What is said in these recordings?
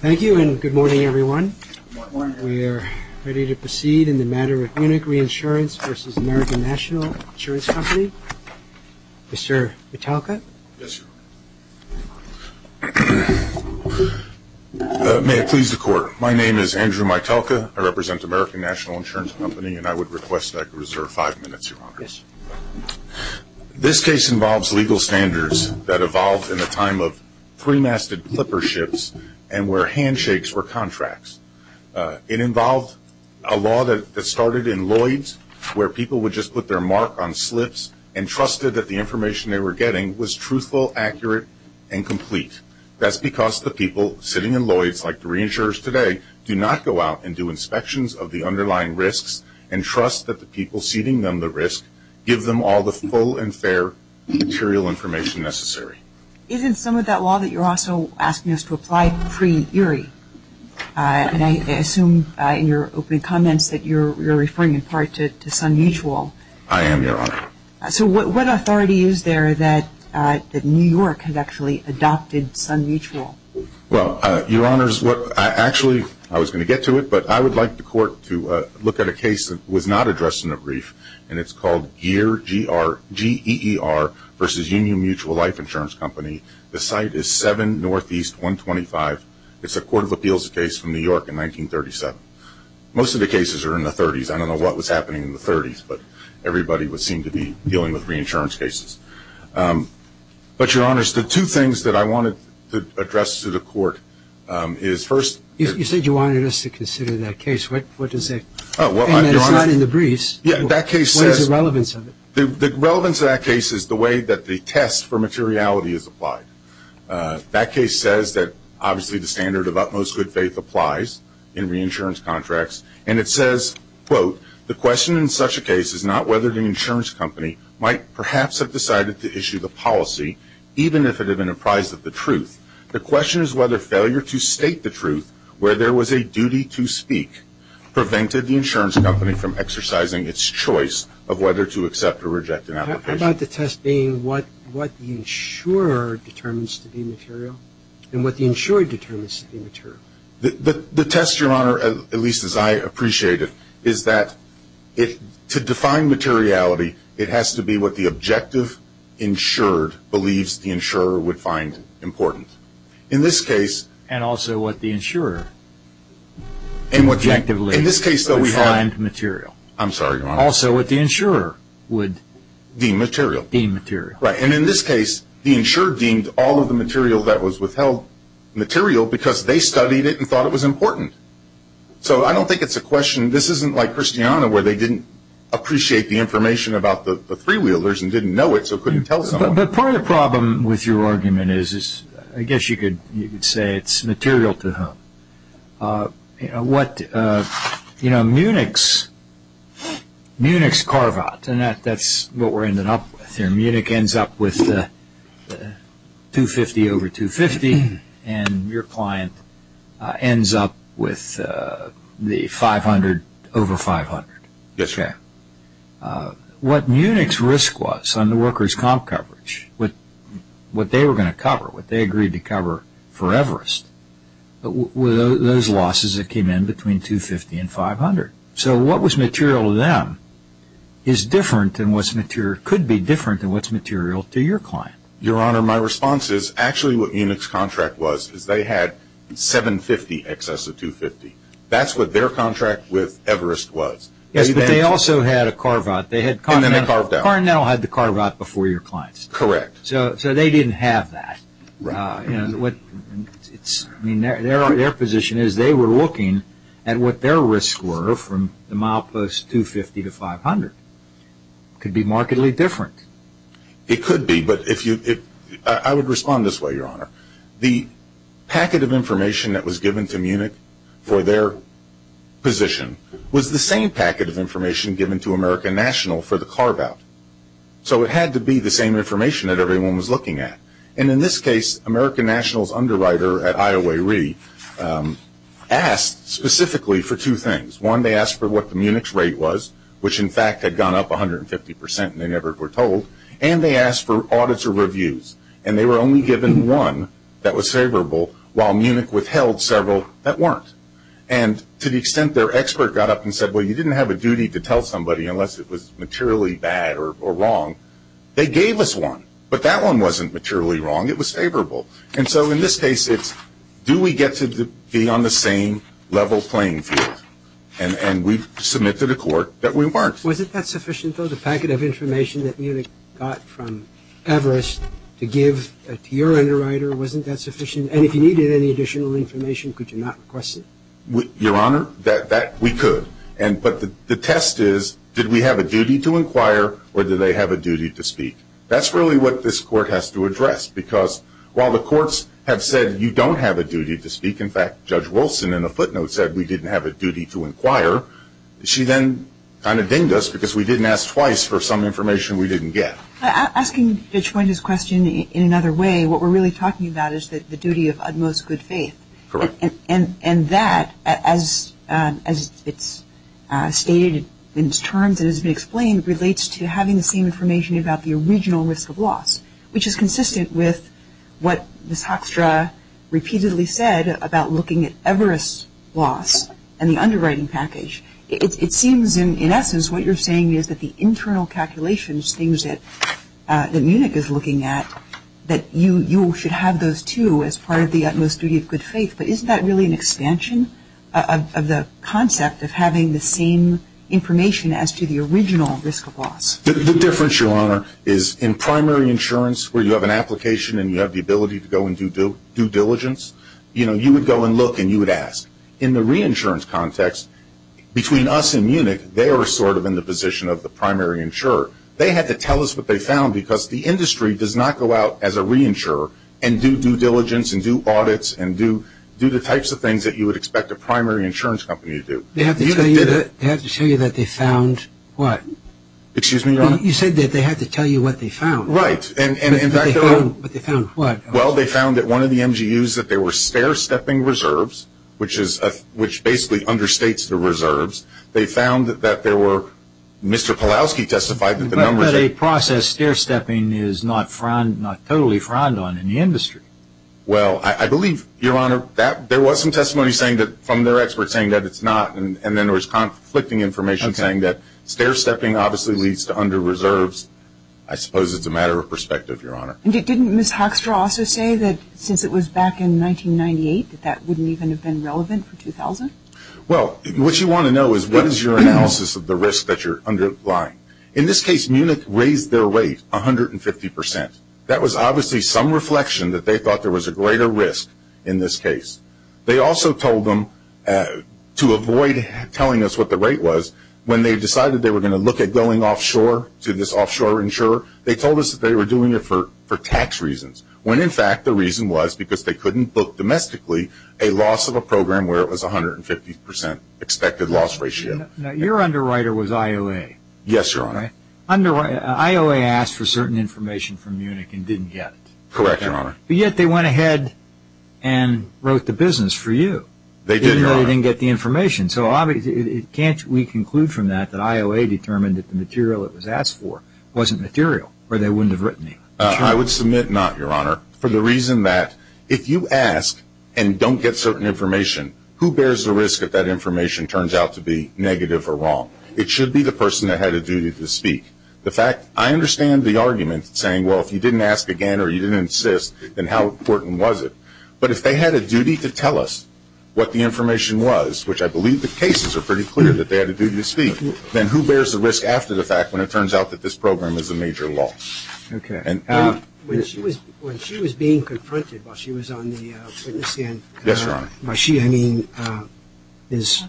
Thank you and good morning everyone. We are ready to proceed in the matter of Munich Reinsurance v. American National Insurance Company. Mr. Mitalka? Yes, Your Honor. May it please the Court. My name is Andrew Mitalka. I represent American National Insurance Company and I would request that I reserve five minutes, Your Honor. Yes. This case involves legal standards that evolved in the time of three-masted clipper ships and where handshakes were contracts. It involved a law that started in Lloyds where people would just put their mark on slips and trusted that the information they were getting was truthful, accurate, and complete. That's because the people sitting in Lloyds, like the reinsurers today, do not go out and do inspections of the underlying risks and trust that the people ceding them the risk give them all the full and fair material information necessary. Isn't some of that law that you're also asking us to apply pre-Erie? And I assume in your opening comments that you're referring in part to Sun Mutual. I am, Your Honor. So what authority is there that New York has actually adopted Sun Mutual? Well, Your Honor, actually, I was going to get to it, but I would like the Court to look at a case that was not addressed in the brief, and it's called GEER v. Union Mutual Life Insurance Company. The site is 7 Northeast 125. It's a Court of Appeals case from New York in 1937. Most of the cases are in the 30s. I don't know what was happening in the 30s, but everybody would seem to be dealing with reinsurance cases. But Your Honor, the two things that I wanted to address to the Court is, first- You said you wanted us to consider that case. What is it? It's not in the briefs. Yeah, that case says- What is the relevance of it? The relevance of that case is the way that the test for materiality is applied. That case says that, obviously, the standard of utmost good faith applies in reinsurance contracts, and it says, quote, the question in such a case is not whether the insurance company might perhaps have decided to issue the policy, even if it had been apprised of the truth. The question is whether failure to state the truth, where there was a duty to speak, prevented the insurance company from exercising its choice of whether to accept or reject an application. How about the test being what the insurer determines to be material, and what the insurer determines to be material? The test, Your Honor, at least as I appreciate it, is that to define materiality, it has to be what the objective insured believes the insurer would find important. In this case- And also what the insurer- Objectively- In this case, though, we have- Find material. I'm sorry, Your Honor. Also what the insurer would- Deem material. Deem material. Right, and in this case, the insurer deemed all of the material that was withheld material because they studied it and thought it was important. So I don't think it's a question, this isn't like Christiana, where they didn't appreciate the information about the three wheelers and didn't know it, so couldn't tell someone. But part of the problem with your argument is, I guess you could say it's material to know. You know, Munich's carve-out, and that's what we're ending up with here, Munich ends up with 250 over 250, and your client ends up with the 500 over 500. Yes, Your Honor. What Munich's risk was on the workers' comp coverage, what they were going to cover, what were those losses that came in between 250 and 500? So what was material to them is different than what's material- could be different than what's material to your client. Your Honor, my response is, actually what Munich's contract was, is they had 750 excess of 250. That's what their contract with Everest was. Yes, but they also had a carve-out. And then they carved out. They had continental- continental had the carve-out before your client's. Correct. So they didn't have that. Right. I mean, their position is they were looking at what their risks were from the milepost 250 to 500. Could be markedly different. It could be, but if you- I would respond this way, Your Honor. The packet of information that was given to Munich for their position was the same packet of information given to American National for the carve-out. So it had to be the same information that everyone was looking at. And in this case, American National's underwriter at IOA-Re asked specifically for two things. One, they asked for what the Munich's rate was, which in fact had gone up 150 percent and they never were told. And they asked for audits or reviews. And they were only given one that was favorable, while Munich withheld several that weren't. And to the extent their expert got up and said, well, you didn't have a duty to tell somebody unless it was materially bad or wrong, they gave us one. But that one wasn't materially wrong. It was favorable. And so in this case, it's do we get to be on the same level playing field? And we submit to the court that we weren't. Was it that sufficient, though, the packet of information that Munich got from Everest to give to your underwriter? Wasn't that sufficient? And if you needed any additional information, could you not request it? Your Honor, we could. But the test is, did we have a duty to inquire or did they have a duty to speak? That's really what this court has to address. Because while the courts have said you don't have a duty to speak, in fact, Judge Wilson in a footnote said we didn't have a duty to inquire. She then kind of dinged us because we didn't ask twice for some information we didn't get. Asking Judge Point's question in another way, what we're really talking about is the duty of utmost good faith. Correct. And that, as it's stated in its terms and has been explained, relates to having the same information about the original risk of loss, which is consistent with what Ms. Hoekstra repeatedly said about looking at Everest's loss and the underwriting package. It seems in essence what you're saying is that the internal calculations, things that Munich is looking at, that you should have those, too, as part of the utmost duty of good faith. But isn't that really an expansion of the concept of having the same information as to the original risk of loss? The difference, Your Honor, is in primary insurance where you have an application and you have the ability to go and do due diligence, you know, you would go and look and you would ask. In the reinsurance context, between us and Munich, they are sort of in the position of the primary insurer. They had to tell us what they found because the industry does not go out as a reinsurer and do due diligence and do audits and do the types of things that you would expect a primary insurance company to do. They had to tell you that they found what? Excuse me, Your Honor? You said that they had to tell you what they found. Right. And in fact, they were... What they found, what? Well, they found that one of the MGUs, that there were stair-stepping reserves, which basically understates the reserves. They found that there were, Mr. Pawlowski testified that the numbers... But a process stair-stepping is not totally frowned on in the industry. Well, I believe, Your Honor, that there was some testimony saying that, from their experts saying that it's not, and then there was conflicting information saying that stair-stepping obviously leads to under-reserves. I suppose it's a matter of perspective, Your Honor. And didn't Ms. Hoekstra also say that since it was back in 1998 that that wouldn't even have been relevant for 2000? Well, what you want to know is what is your analysis of the risk that you're underlying? In this case, Munich raised their rate 150 percent. That was obviously some reflection that they thought there was a greater risk in this case. They also told them, to avoid telling us what the rate was, when they decided they were going to look at going offshore to this offshore insurer, they told us that they were doing it for tax reasons, when in fact the reason was because they couldn't book domestically a loss of a program where it was 150 percent expected loss ratio. Now, your underwriter was IOA. Yes, Your Honor. IOA asked for certain information from Munich and didn't get it. Correct, Your Honor. But yet they went ahead and wrote the business for you. They did, Your Honor. Even though they didn't get the information. So obviously, can't we conclude from that that IOA determined that the material it was asked for wasn't material, or they wouldn't have written it? I would submit not, Your Honor, for the reason that if you ask and don't get certain information, who bears the risk that that information turns out to be negative or wrong? It should be the person that had a duty to speak. The fact, I understand the argument saying, well, if you didn't ask again or you didn't insist, then how important was it? But if they had a duty to tell us what the information was, which I believe the cases are pretty clear that they had a duty to speak, then who bears the risk after the fact when it turns out that this program is a major loss? Okay. When she was being confronted while she was on the witness stand, by she I mean Ms.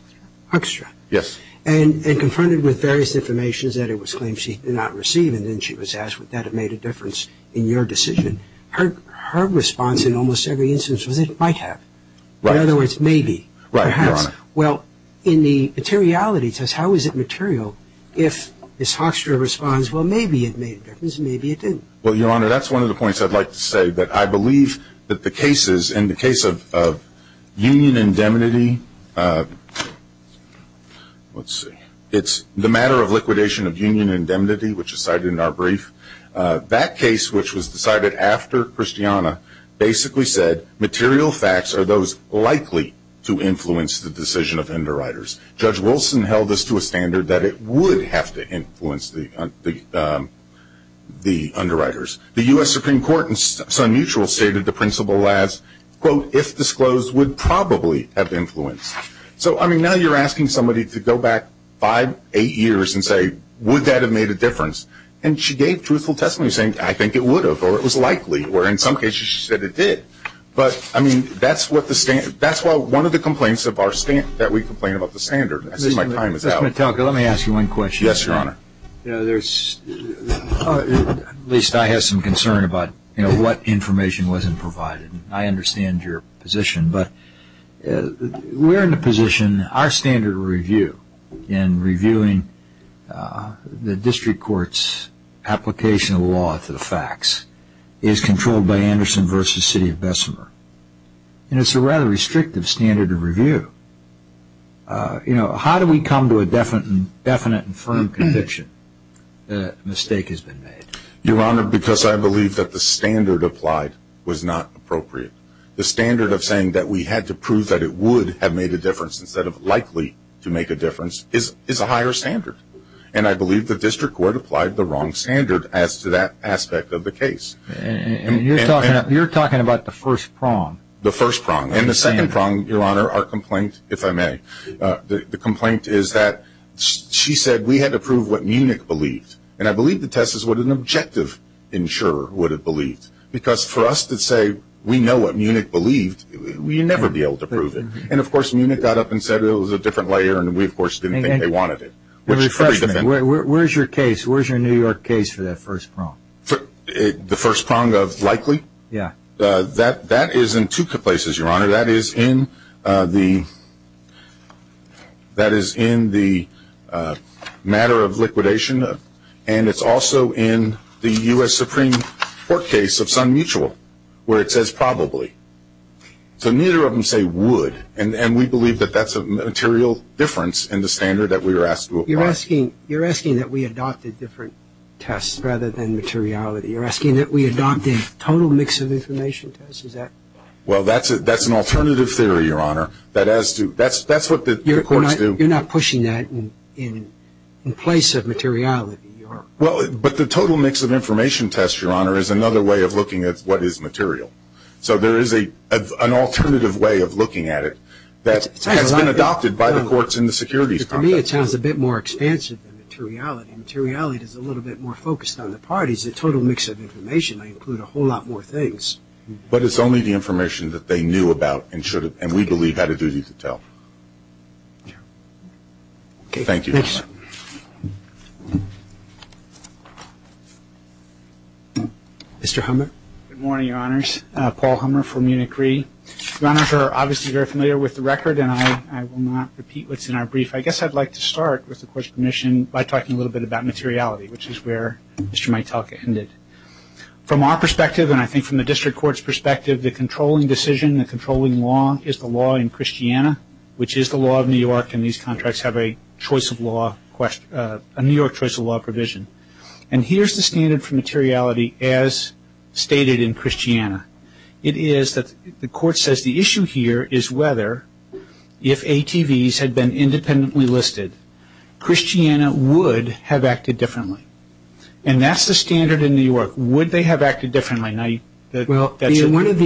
Huckstrap. Yes. And confronted with various information that it was claimed she did not receive, and then she was asked, would that have made a difference in your decision? Her response in almost every instance was that it might have. In other words, maybe, perhaps. Right, Your Honor. Well, in the materiality, it says, how is it material? If Ms. Huckstrap responds, well, maybe it made a difference, maybe it didn't. Well, Your Honor, that's one of the points I'd like to say, that I believe that the cases in the case of union indemnity, let's see, it's the matter of liquidation of union indemnity, which is cited in our brief. That case, which was decided after Christiana, basically said material facts are those likely to influence the decision of underwriters. Judge Wilson held this to a standard that it would have to influence the underwriters. The U.S. Supreme Court in Sun Mutual stated the principle as, quote, if disclosed would probably have influence. So, I mean, now you're asking somebody to go back five, eight years and say, would that have made a difference? And she gave truthful testimony saying, I think it would have, or it was likely, or in some cases she said it did. But, I mean, that's what the standard, that's why one of the complaints of our standard, that we complain about the standard, I see my time is out. Mr. Metallica, let me ask you one question. Yes, Your Honor. You know, there's, at least I have some concern about, you know, what information wasn't provided. I understand your position, but we're in a position, our standard of review in reviewing the district court's application of the law to the facts is controlled by Anderson v. City of Bessemer. And it's a rather restrictive standard of review. You know, how do we come to a definite and firm conviction that a mistake has been made? Your Honor, because I believe that the standard applied was not appropriate. The standard of saying that we had to prove that it would have made a difference instead of likely to make a difference is a higher standard. And I believe the district court applied the wrong standard as to that aspect of the case. And you're talking about the first prong. The first prong. And the second prong, Your Honor, our complaint, if I may. The complaint is that she said we had to prove what Munich believed. And I believe the test is what an objective insurer would have believed. Because for us to say we know what Munich believed, we'd never be able to prove it. And, of course, Munich got up and said it was a different layer and we, of course, didn't think they wanted it. Where's your case? Where's your New York case for that first prong? The first prong of likely? Yeah. That is in two places, Your Honor. That is in the matter of liquidation and it's also in the U.S. Supreme Court case of Sun Mutual where it says probably. So neither of them say would. And we believe that that's a material difference in the standard that we were asked to apply. You're asking that we adopted different tests rather than materiality. You're asking that we adopt a total mix of information test? Is that? Well, that's an alternative theory, Your Honor. That's what the courts do. You're not pushing that in place of materiality? But the total mix of information test, Your Honor, is another way of looking at what is material. So there is an alternative way of looking at it that has been adopted by the courts in the securities context. To me, it sounds a bit more expansive than materiality. Materiality is a little bit more more things. But it's only the information that they knew about and we believe had a duty to tell. Okay. Thank you. Mr. Hummer? Good morning, Your Honors. Paul Hummer from Munich Re. Your Honors are obviously very familiar with the record and I will not repeat what's in our brief. I guess I'd like to start with the Court's permission by talking a little bit about materiality, which is where Mr. From our perspective and I think from the District Court's perspective, the controlling decision, the controlling law is the law in Christiana, which is the law of New York and these contracts have a choice of law, a New York choice of law provision. And here's the standard for materiality as stated in Christiana. It is that the Court says the issue here is whether if ATVs had been independently listed, Christiana would have acted differently. And that's the standard in New York. Would they have acted differently? Well, one of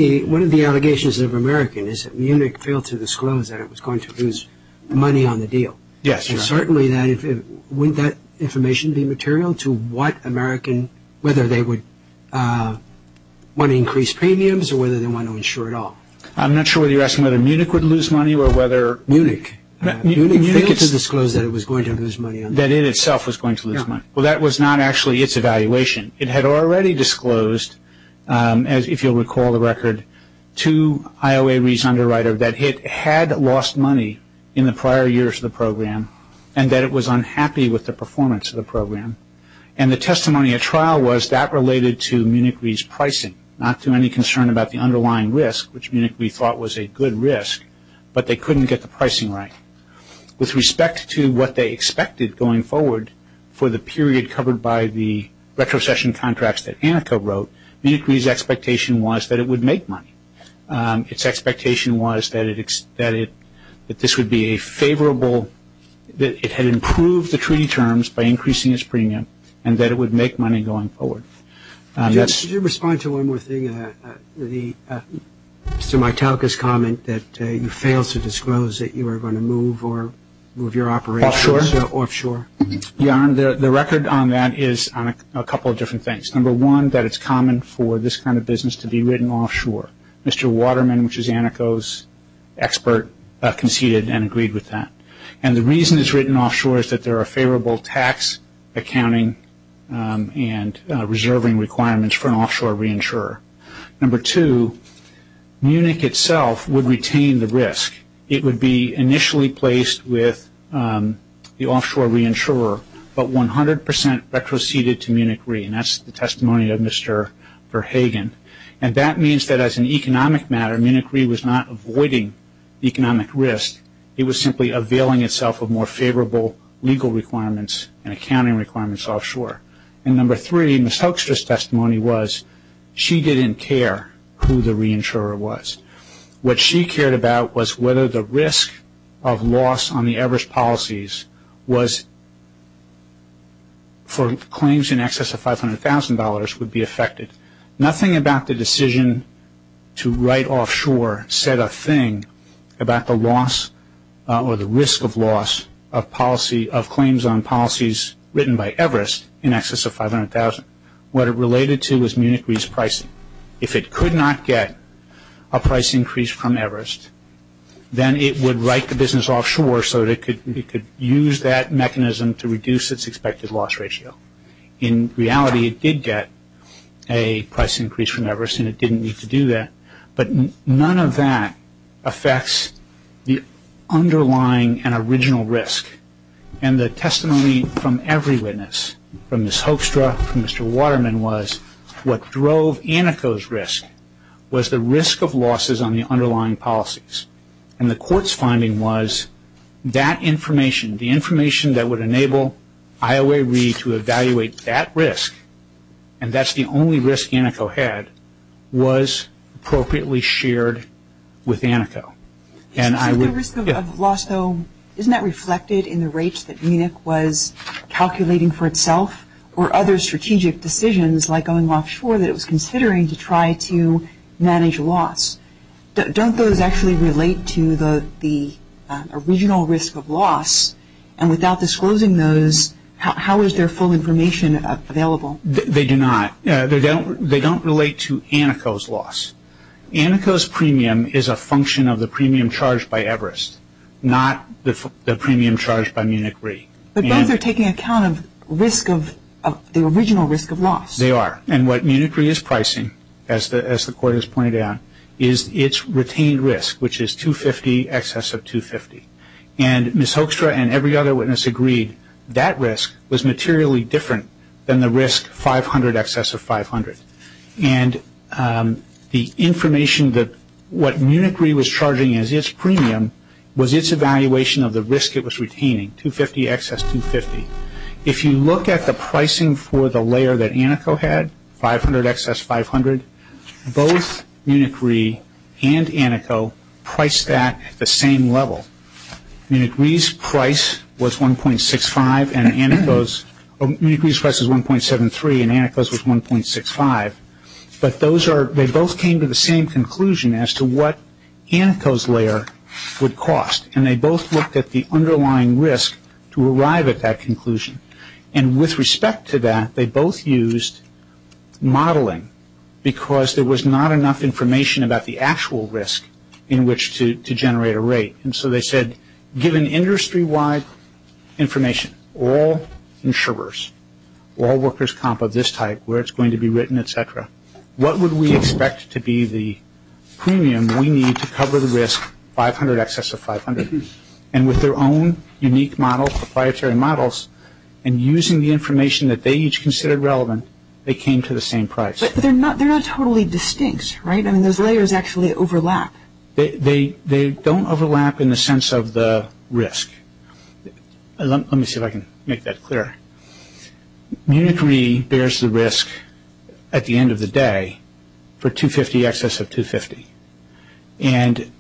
the allegations of American is that Munich failed to disclose that it was going to lose money on the deal. Yes, Your Honor. And certainly wouldn't that information be material to what American, whether they would want to increase premiums or whether they want to insure it all? I'm not sure whether you're asking whether Munich would lose money or whether that it itself was going to lose money. No. Well, that was not actually its evaluation. It had already disclosed, if you'll recall the record, to IOA Reason Underwriter that it had lost money in the prior years of the program and that it was unhappy with the performance of the program. And the testimony at trial was that related to Munich Re's pricing, not to any concern about the underlying risk, which Munich Re thought was a good risk, but they couldn't get the pricing right. With respect to what they expected going forward for the period covered by the retrocession contracts that Anika wrote, Munich Re's expectation was that it would make money. Its expectation was that this would be a favorable, that it had improved the treaty terms by increasing its premium and that it would make money going forward. Could you respond to one more thing? Mr. Mitalika's comment that you failed to disclose that you were going to move or move your operations offshore? The record on that is on a couple of different things. Number one, that it's common for this kind of business to be written offshore. Mr. Waterman, which is Aniko's expert, conceded and agreed with that. And the reason it's written offshore is that there are favorable tax accounting and reserving requirements for an offshore reinsurer. Number two, Munich itself would retain the risk. It would be initially placed with the offshore reinsurer, but 100 percent retroceded to Munich Re. And that's the testimony of Mr. Verhagen. And that means that as an economic matter, Munich Re was not avoiding economic risk. It was simply availing itself of more favorable legal requirements and accounting requirements offshore. And number three, Ms. Hoekstra's testimony was she didn't care who the reinsurer was. What she cared about was whether the risk of loss on the Everest policies was for claims in excess of $500,000 would be affected. Nothing about the decision to write offshore said a thing about the loss or the risk of loss of policy, of claims on policies written by in excess of $500,000. What it related to was Munich Re's price. If it could not get a price increase from Everest, then it would write the business offshore so that it could use that mechanism to reduce its expected loss ratio. In reality, it did get a price increase from Everest and it didn't need to do that. But none of that affects the underlying and original risk. And the testimony from every witness, from Ms. Hoekstra, from Mr. Waterman was what drove Aneco's risk was the risk of losses on the underlying policies. And the court's finding was that information, the information that would enable IOA Re to evaluate that risk, and that's the only risk Aneco had, was appropriately shared with Aneco. And the risk of loss, though, isn't that reflected in the rates that Munich was calculating for itself or other strategic decisions like going offshore that it was considering to try to manage loss? Don't those actually relate to the original risk of loss? And without disclosing those, how is their full information available? They do not. They don't relate to Aneco's loss. Aneco's premium is a function of the premium charged by Everest, not the premium charged by Munich Re. But both are taking account of risk of, the original risk of loss. They are. And what Munich Re is pricing, as the court has pointed out, is its retained risk, which is 250, excess of 250. And Ms. Hoekstra and every other witness agreed that that risk was materially different than the risk 500, excess of 500. And the information that what Munich Re was charging as its premium was its evaluation of the risk it was retaining, 250, excess 250. If you look at the pricing for the layer that Aneco had, 500, excess 500, both Munich Re and Aneco priced that at the same level. Munich Re's price was 1.65 and Aneco's, Munich Re's price was 1.73 and Aneco's was 1.65. But those are, they both came to the same conclusion as to what Aneco's layer would cost. And they both looked at the underlying risk to arrive at that conclusion. And with respect to that, they both used modeling because there was not enough information about the actual risk in which to generate a rate. And so they said, given industry-wide information, all insurers, all workers comp of this type, where it's going to be written, et cetera, what would we expect to be the premium we need to cover the risk 500, excess of 500? And with their own unique model, proprietary models, and using the information that they each considered relevant, they came to the same price. But they're not totally distinct, right? I mean, those layers actually overlap. They don't overlap in the sense of the risk. Let me see if I can make that clear. Munich Re bears the risk at the end of the day for 250, excess of 250. And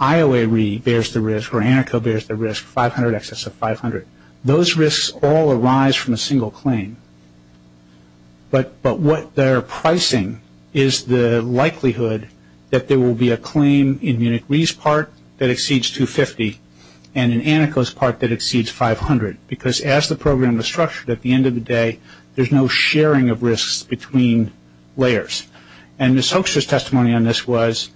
IOA Re bears the risk, where Aneco bears the risk, 500, excess of 500. Those risks all arise from a single claim. But what they're pricing is the likelihood that there will be a claim in Munich Re's part that exceeds 250, and in Aneco's part that exceeds 500. Because as the program is structured at the end of the day, there's no sharing of risks between layers. And Ms. Hoekstra's testimony on this was,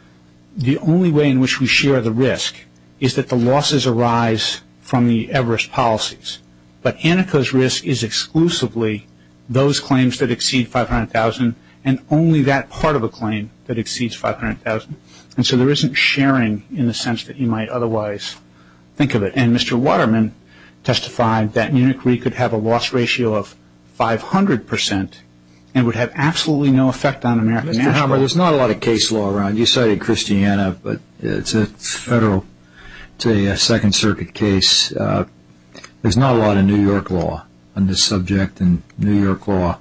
the only way in which we share the risk is that the losses arise from the Everest policies. But Aneco's risk is exclusively those claims that exceed 500,000, and only that part of a claim that exceeds 500,000. And so there isn't sharing in the sense that you might otherwise think of it. And Mr. Waterman testified that Munich Re could have a loss ratio of 500% and would have absolutely no effect on American nationals. Mr. Hammer, there's not a lot of case law around. You cited Christiana, but it's a Federal, it's a Second Circuit case. There's not a lot of New York law on this subject, and New York law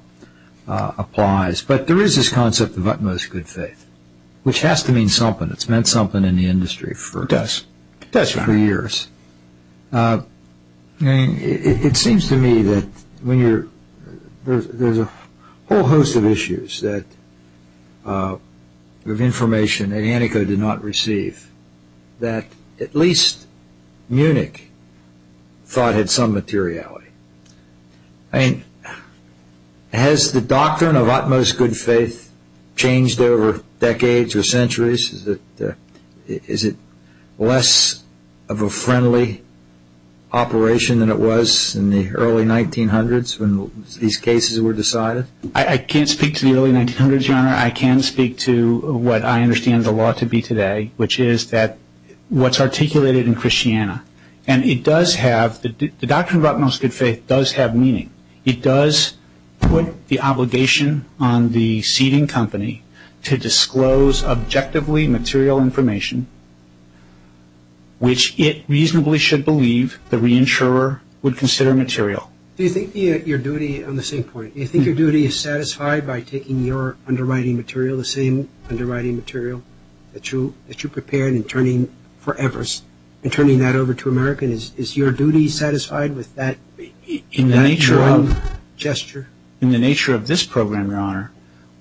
applies. But there is this concept of utmost good faith, which has to mean something. It's meant something in the industry for years. It seems to me that there's a whole host of issues of information that Aneco did not receive that at least Munich thought had some materiality. Has the doctrine of utmost good faith changed over decades or centuries? Is it less of a friendly operation than it was in the early 1900s when these cases were decided? I can't speak to the early 1900s, Your Honor. I can speak to what I understand the law to be today, which is that what's articulated in Christiana, and it does have, the doctrine of utmost good faith does have meaning. It does put the obligation on the seeding company to disclose objectively material information, which it reasonably should believe the reinsurer would consider material. Do you think your duty, on the same point, do you think your duty is satisfied by taking your underwriting material, the same underwriting material that you prepared and turning for In the nature of this program, Your Honor,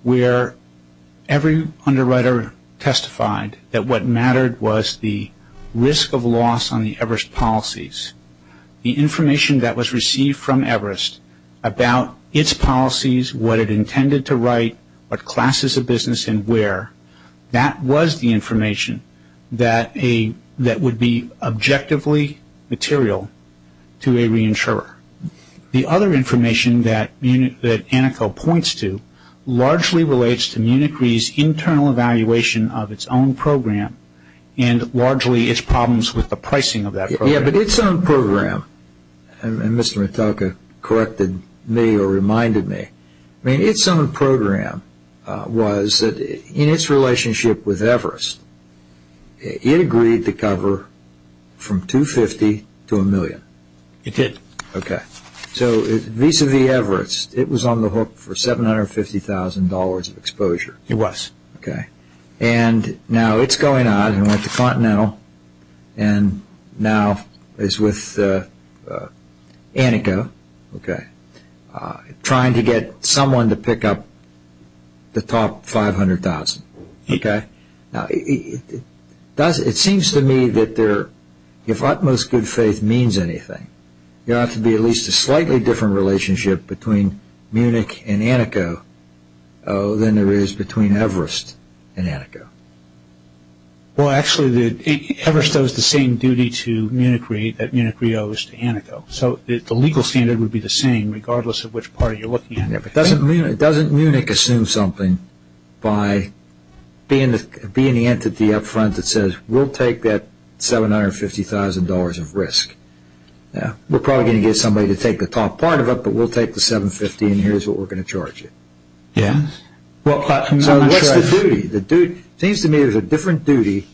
where every underwriter testified that what mattered was the risk of loss on the Everest policies, the information that was received from Everest about its policies, what it intended to write, what classes of business and where, that was the information that would be objectively material to a reinsurer. The other information that Anneko points to largely relates to Munich Re's internal evaluation of its own program and largely its problems with the pricing of that program. Yeah, but its own program, and Mr. Mitalka corrected me or reminded me, I mean, its own program was that in its relationship with Everest, it agreed to cover from $250,000 to $1,000,000. It did. Okay. So, vis-a-vis Everest, it was on the hook for $750,000 of exposure. It was. Okay. And now it's going on with the Continental and now is with Anneko, okay, trying to get someone to pick up the top $500,000, okay? Now, it seems to me that if utmost good faith means anything, there ought to be at least a slightly different relationship between Munich and Anneko than there is between Everest and Anneko. Well, actually, Everest owes the same duty to Munich Re that Munich Re owes to Anneko. So, the legal standard would be the same regardless of which party you're looking at. Yeah, but doesn't Munich assume something by being the entity up front that says, we'll take that $750,000 of risk. Yeah. We're probably going to get somebody to take the top part of it, but we'll take the $750,000 and here's what we're going to charge you. Yeah. So, what's the duty? It seems to me there's a different duty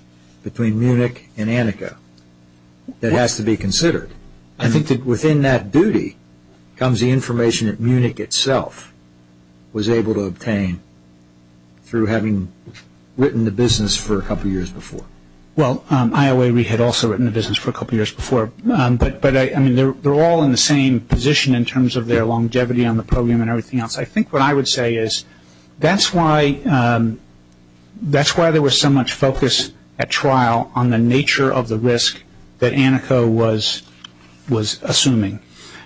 between Munich and Anneko that has to be considered. I think that within that duty comes the information that Munich itself was able to obtain through having written the business for a couple of years before. Well, IOA Re had also written the business for a couple of years before. But, I mean, they're all in the same position in terms of their longevity on the program and everything else. I think what I would say is that's why there was so much focus at trial on the nature of the risk that Anneko was assuming.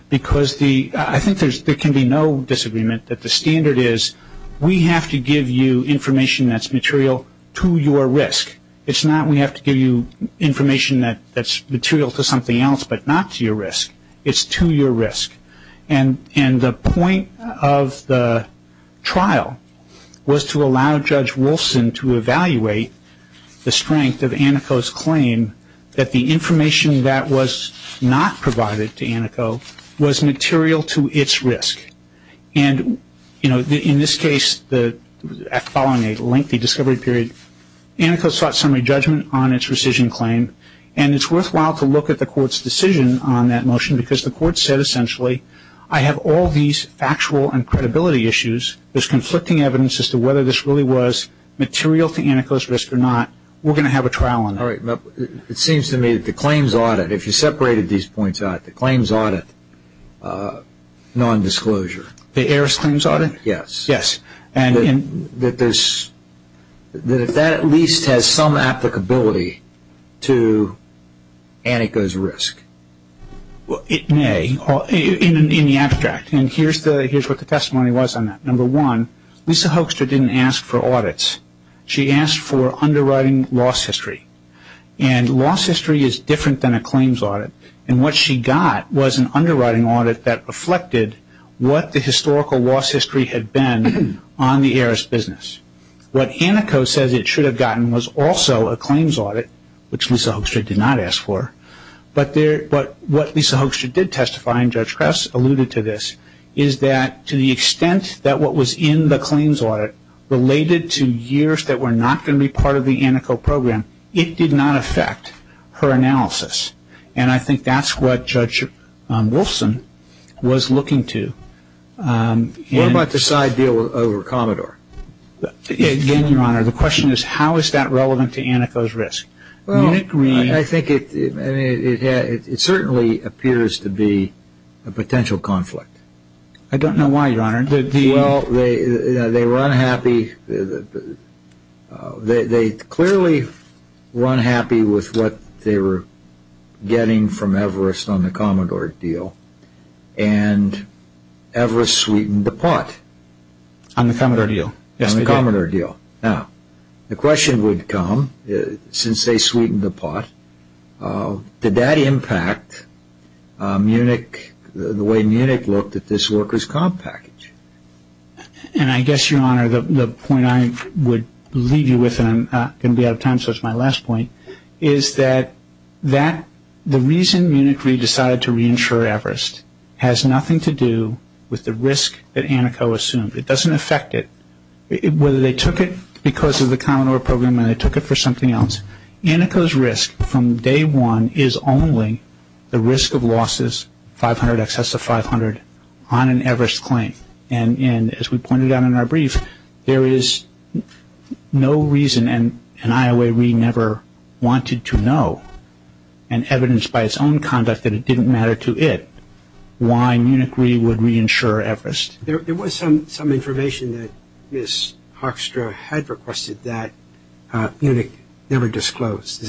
Because I think there can be no disagreement that the standard is we have to give you information that's material to your risk. It's not we have to give you information that's material to something else but not to your risk. It's to your risk. And the point of the trial was to allow Judge Wolfson to evaluate the strength of Anneko's claim that the information that was not provided to Anneko was material to its risk. And, you know, in this case, following a lengthy discovery period, Anneko sought summary judgment on its rescission claim. And it's worthwhile to look at the Court's decision on that motion because the Court said essentially I have all these factual and credibility issues. There's conflicting evidence as to whether this really was material to Anneko's risk or not. We're going to have a trial on that. All right. It seems to me that the claims audit, if you separated these points out, the claims audit nondisclosure. The heiress claims audit? Yes. Yes. That if that at least has some applicability to Anneko's risk. It may. In the abstract. And here's what the testimony was on that. Number one, Lisa Hoekstra didn't ask for audits. She asked for underwriting loss history. And loss history is different than a claims audit. And what she got was an underwriting audit that reflected what the historical loss history had been on the heiress business. What Anneko says it should have gotten was also a claims audit, which Lisa Hoekstra did not ask for. But what Lisa Hoekstra did testify, and Judge Krauss alluded to this, is that to the extent that what was in the claims audit related to years that were not going to be part of the Anneko program, it did not affect her analysis. And I think that's what Judge Wilson was looking to. What about the side deal over Commodore? Again, Your Honor, the question is how is that relevant to Anneko's risk? Well, I think it certainly appears to be a potential conflict. I don't know why, Your Honor. Well, they were unhappy. They clearly were unhappy with what they were getting from Everest on the Commodore deal. And Everest sweetened the pot. On the Commodore deal. On the Commodore deal. Now, the question would come, since they sweetened the pot, did that impact the way Munich looked at this workers' comp package? And I guess, Your Honor, the point I would leave you with, and I'm going to be out of time so it's my last point, is that the reason Munich decided to reinsure Everest has nothing to do with the risk that Anneko assumed. It doesn't affect it. Whether they took it because of the Commodore program or they took it for something else, Anneko's risk from day one is only the risk of losses, 500, excess of 500, on an Everest claim. And as we pointed out in our brief, there is no reason, and IOA really never wanted to know, and evidenced by its own conduct that it didn't matter to it, why Munich really would reinsure Everest. There was some information that Ms. Hoekstra had requested that Munich never disclosed.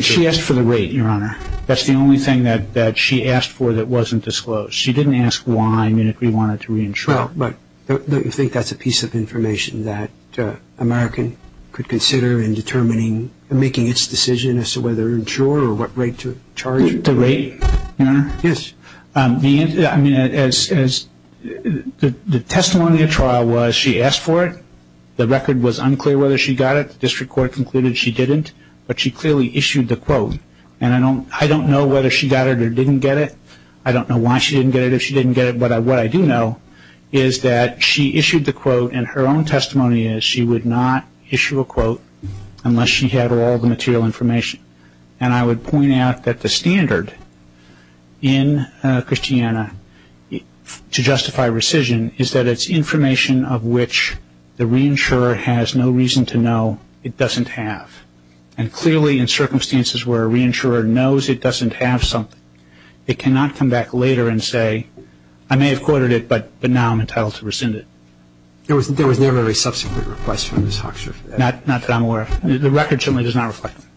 She asked for the rate, Your Honor. That's the only thing that she asked for that wasn't disclosed. She didn't ask why Munich really wanted to reinsure. But you think that's a piece of information that American could consider in determining, making its decision as to whether to insure or what rate to charge? The rate, Your Honor? Yes. I mean, the testimony of trial was she asked for it. The record was unclear whether she got it. The district court concluded she didn't. But she clearly issued the quote. And I don't know whether she got it or didn't get it. I don't know why she didn't get it or if she didn't get it. But what I do know is that she issued the quote and her own testimony is she would not issue a quote unless she had all the material information. And I would point out that the standard in Christiana to justify rescission is that it's information of which the reinsurer has no reason to know it doesn't have. And clearly in circumstances where a reinsurer knows it doesn't have something, it cannot come back later and say, I may have quoted it, but now I'm entitled to rescind it. There was never a subsequent request from Ms. Hoekstra for that? Not that I'm aware of. The record certainly does not reflect that.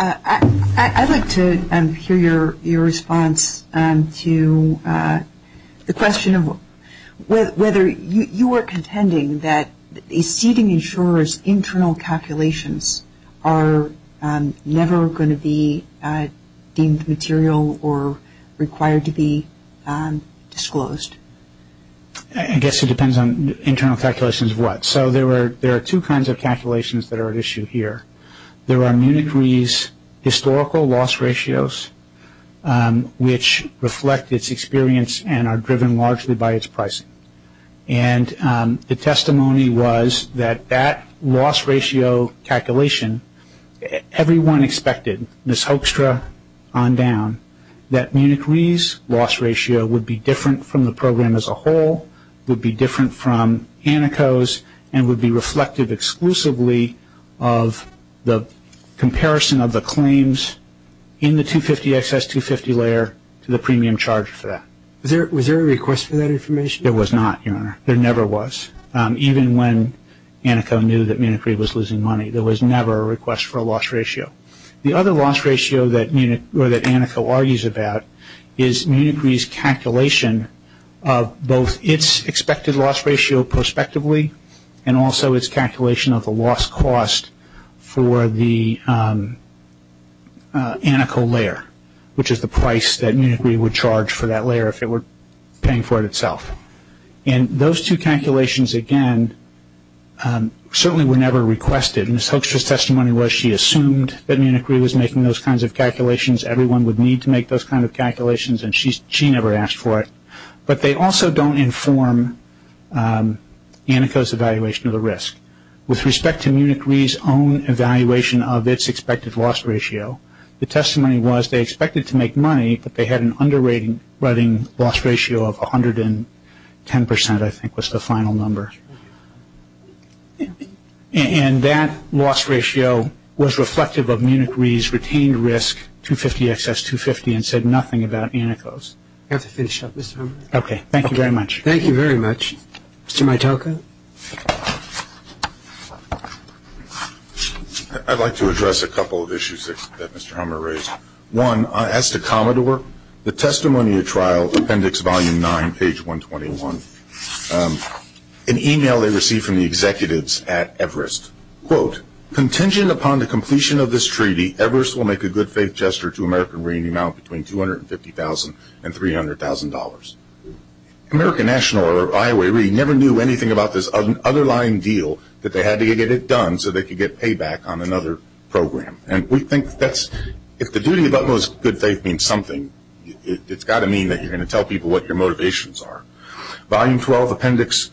I'd like to hear your response to the question of whether you are contending that a seating insurer's internal calculations are never going to be deemed material or required to be disclosed. I guess it depends on internal calculations of what. So there are two kinds of calculations that are at issue here. There are Munich Re's historical loss ratios, which reflect its experience and are driven largely by its pricing. And the testimony was that that loss ratio calculation, everyone expected, Ms. Hoekstra on down, that Munich Re's loss ratio would be different from the program as a whole, would be different from ANACO's, and would be reflective exclusively of the comparison of the claims in the 250XS250 layer to the premium charged for that. Was there a request for that information? There was not, Your Honor. There never was. Even when ANACO knew that Munich Re was losing money, there was never a request for a loss ratio. The other loss ratio that ANACO argues about is Munich Re's calculation of both its expected loss ratio prospectively, and also its calculation of the loss cost for the ANACO layer, which is the price that Munich Re would charge for that layer if it were paying for it itself. And those two calculations, again, certainly were never requested. Ms. Hoekstra's testimony was she assumed that Munich Re was making those kinds of calculations. Everyone would need to make those kinds of calculations, and she never asked for it. But they also don't inform ANACO's evaluation of the risk. With respect to Munich Re's own evaluation of its expected loss ratio, the testimony was they expected to make money, but they had an underwriting loss ratio of 110%, I think was the final number. And that loss ratio was reflective of Munich Re's retained risk, 250XS250, and said nothing about ANACO's. We have to finish up, Mr. Hummer. Okay. Thank you very much. Thank you very much. Mr. Mitoka? I'd like to address a couple of issues that Mr. Hummer raised. One, as to Commodore, the testimony at trial, Appendix Volume 9, page 121, an email they received from the executives at Everest, quote, contingent upon the completion of this treaty, Everest will make a good faith gesture to American Re, in the amount between $250,000 and $300,000. American National or Iowa Re never knew anything about this underlying deal that they had to get it done so they could get payback on another program. And we think that's, if the duty of utmost good faith means something, it's got to mean that you're going to tell people what your motivations are. Volume 12, Appendix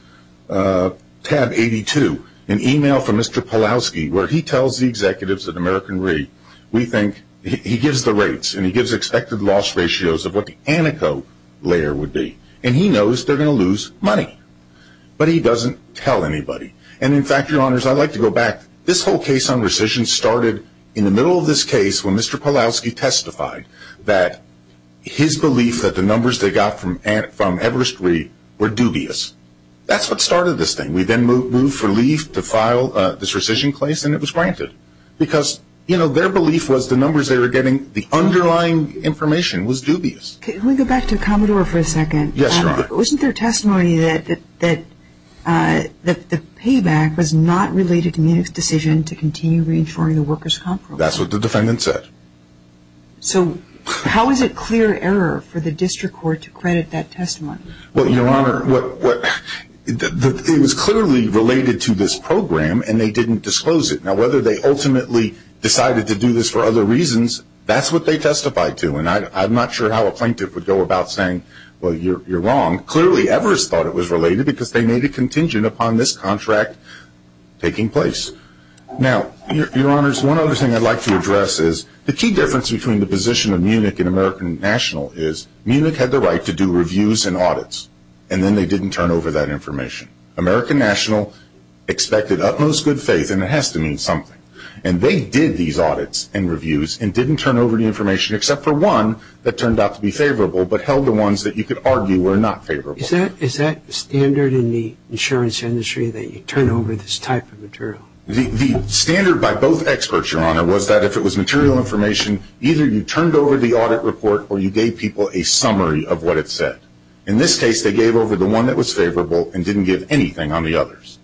Tab 82, an email from Mr. Polowski, where he tells the executives at American Re, we think, he gives the rates and he gives expected loss ratios of what the antico layer would be. And he knows they're going to lose money. But he doesn't tell anybody. And in fact, your honors, I'd like to go back. This whole case on rescission started in the middle of this case when Mr. Polowski testified that his belief that the numbers they got from Everest Re were dubious. That's what started this thing. We then moved for leave to file this rescission case and it was granted. Because, you know, their belief was the numbers they were getting, the underlying information was dubious. Can we go back to Commodore for a second? Yes, your honor. Wasn't there testimony that the payback was not related to Munich's decision to continue reinsuring the workers' comp program? That's what the defendant said. So how is it clear error for the district court to credit that testimony? Well, your honor, it was clearly related to this program and they didn't disclose it. Now, whether they ultimately decided to do this for other reasons, that's what they testified to. And I'm not sure how a plaintiff would go about saying, well, you're wrong. Clearly, Everest thought it was related because they made a contingent upon this contract taking place. Now, your honors, one other thing I'd like to address is the key difference between the position of Munich and American National is Munich had the right to do reviews and audits and then they didn't turn over that information. American National expected utmost good faith and it has to mean something. And they did these audits and reviews and didn't turn over the information except for one that turned out to be favorable but held the ones that you could argue were not favorable. Is that standard in the insurance industry that you turn over this type of material? The standard by both experts, your honor, was that if it was material information, either you turned over the audit report or you gave people a summary of what it said. In this case, they gave over the one that was favorable and didn't give anything on the others.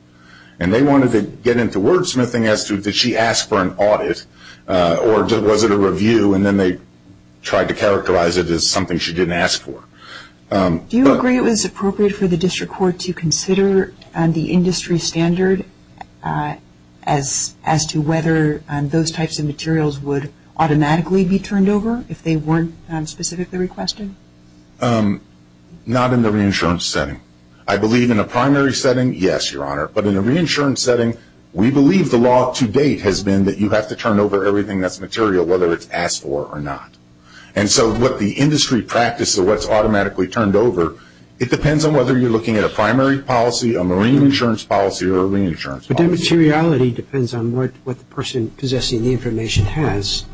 And they wanted to get into wordsmithing as to did she ask for an audit or was it a review and then they tried to characterize it as something she didn't ask for. Do you agree it was appropriate for the district court to consider the industry standard as to whether those types of materials would automatically be turned over if they weren't specifically requested? Not in the reinsurance setting. I believe in a primary setting, yes, your honor. But in a reinsurance setting, we believe the law to date has been that you have to turn over everything that's material whether it's asked for or not. And so what the industry practice of what's automatically turned over, it depends on whether you're looking at a primary policy, a marine insurance policy, or a reinsurance policy. But that materiality depends on what the person possessing the information has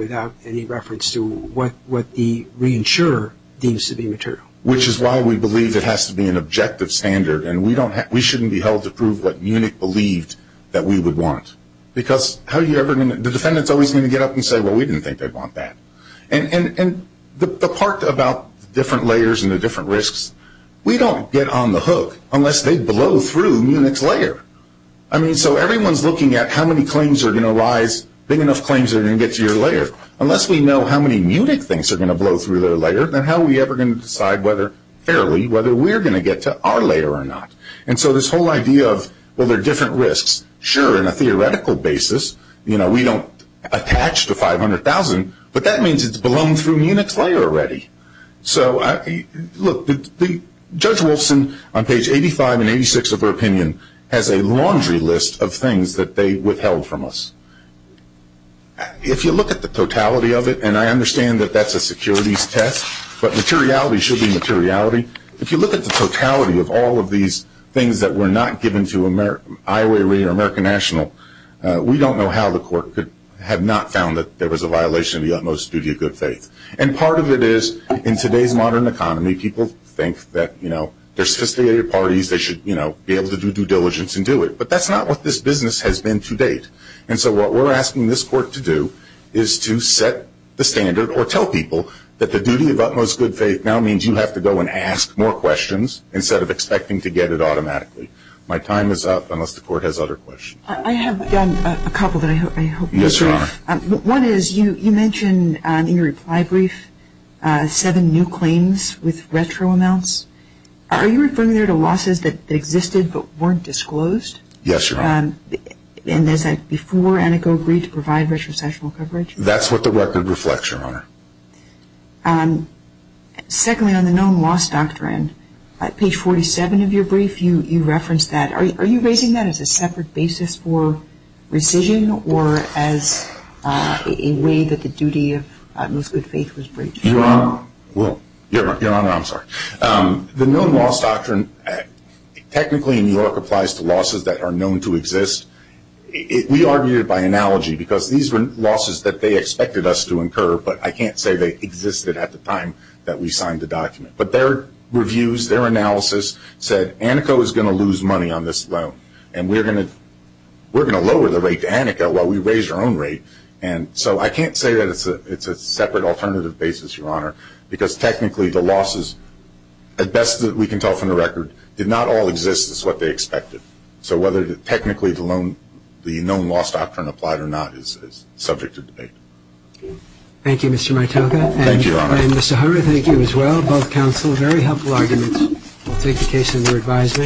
without any reference to what the reinsurer deems to be material. Which is why we believe it has to be an objective standard and we shouldn't be held to prove what Munich believed that we would want. Because the defendant is always going to get up and say well we didn't think they'd want that. And the part about different layers and the different risks, we don't get on the hook unless they blow through Munich's layer. So everyone's looking at how many claims are going to arise, big enough claims are going to get to your layer. Unless we know how many Munich things are going to blow through their layer, then how are we ever going to decide whether, fairly, whether we're going to get to our layer or not. And so this whole idea of well there are different risks, sure in a theoretical basis, we don't attach to 500,000, but that means it's blown through Munich's layer already. So look, Judge Wolfson on page 85 and 86 of her opinion has a laundry list of things that they withheld from us. If you look at the totality of it, and I understand that that's a securities test, but materiality should be materiality. If you look at the totality of all of these things that were not given to Iowa Area or American National, we don't know how the court could have not found that there was a violation of the utmost duty of good faith. And part of it is in today's modern economy, people think that they're sophisticated parties, they should be able to do due diligence and do it. But that's not what this business has been to date. And so what we're asking this court to do is to set the standard or tell people that the duty of utmost good faith now means you have to go and ask more questions instead of expecting to get it automatically. My time is up unless the court has other questions. I have a couple that I hope you'll see. Yes, Your Honor. One is, you mentioned in your reply brief seven new claims with retro amounts. Are you referring there to losses that existed but weren't disclosed? Yes, Your Honor. And is that before Aneco agreed to provide retrocessional coverage? That's what the record reflects, Your Honor. Secondly, on the known loss doctrine, page 47 of your brief, you referenced that. Are you raising that as a separate basis for rescission or as a way that the duty of utmost good faith was breached? Your Honor, well, Your Honor, I'm sorry. The known loss doctrine technically in New York applies to losses that are known to exist. We argue it by analogy because these were losses that they expected us to incur, but I can't say they existed at the time that we signed the document. But their reviews, their analysis, said Aneco is going to lose money on this loan and we're going to lower the rate to Aneco while we raise our own rate. And so I can't say that it's a separate, alternative basis, Your Honor, because technically the losses, at best that we can tell from the record, did not all exist as what they expected. So whether technically the known loss doctrine applied or not is subject to debate. Thank you, Mr. Mitoka. Thank you, Your Honor. And Mr. Hummer, thank you as well. Both counsel, very helpful arguments. We'll take the case under advisement.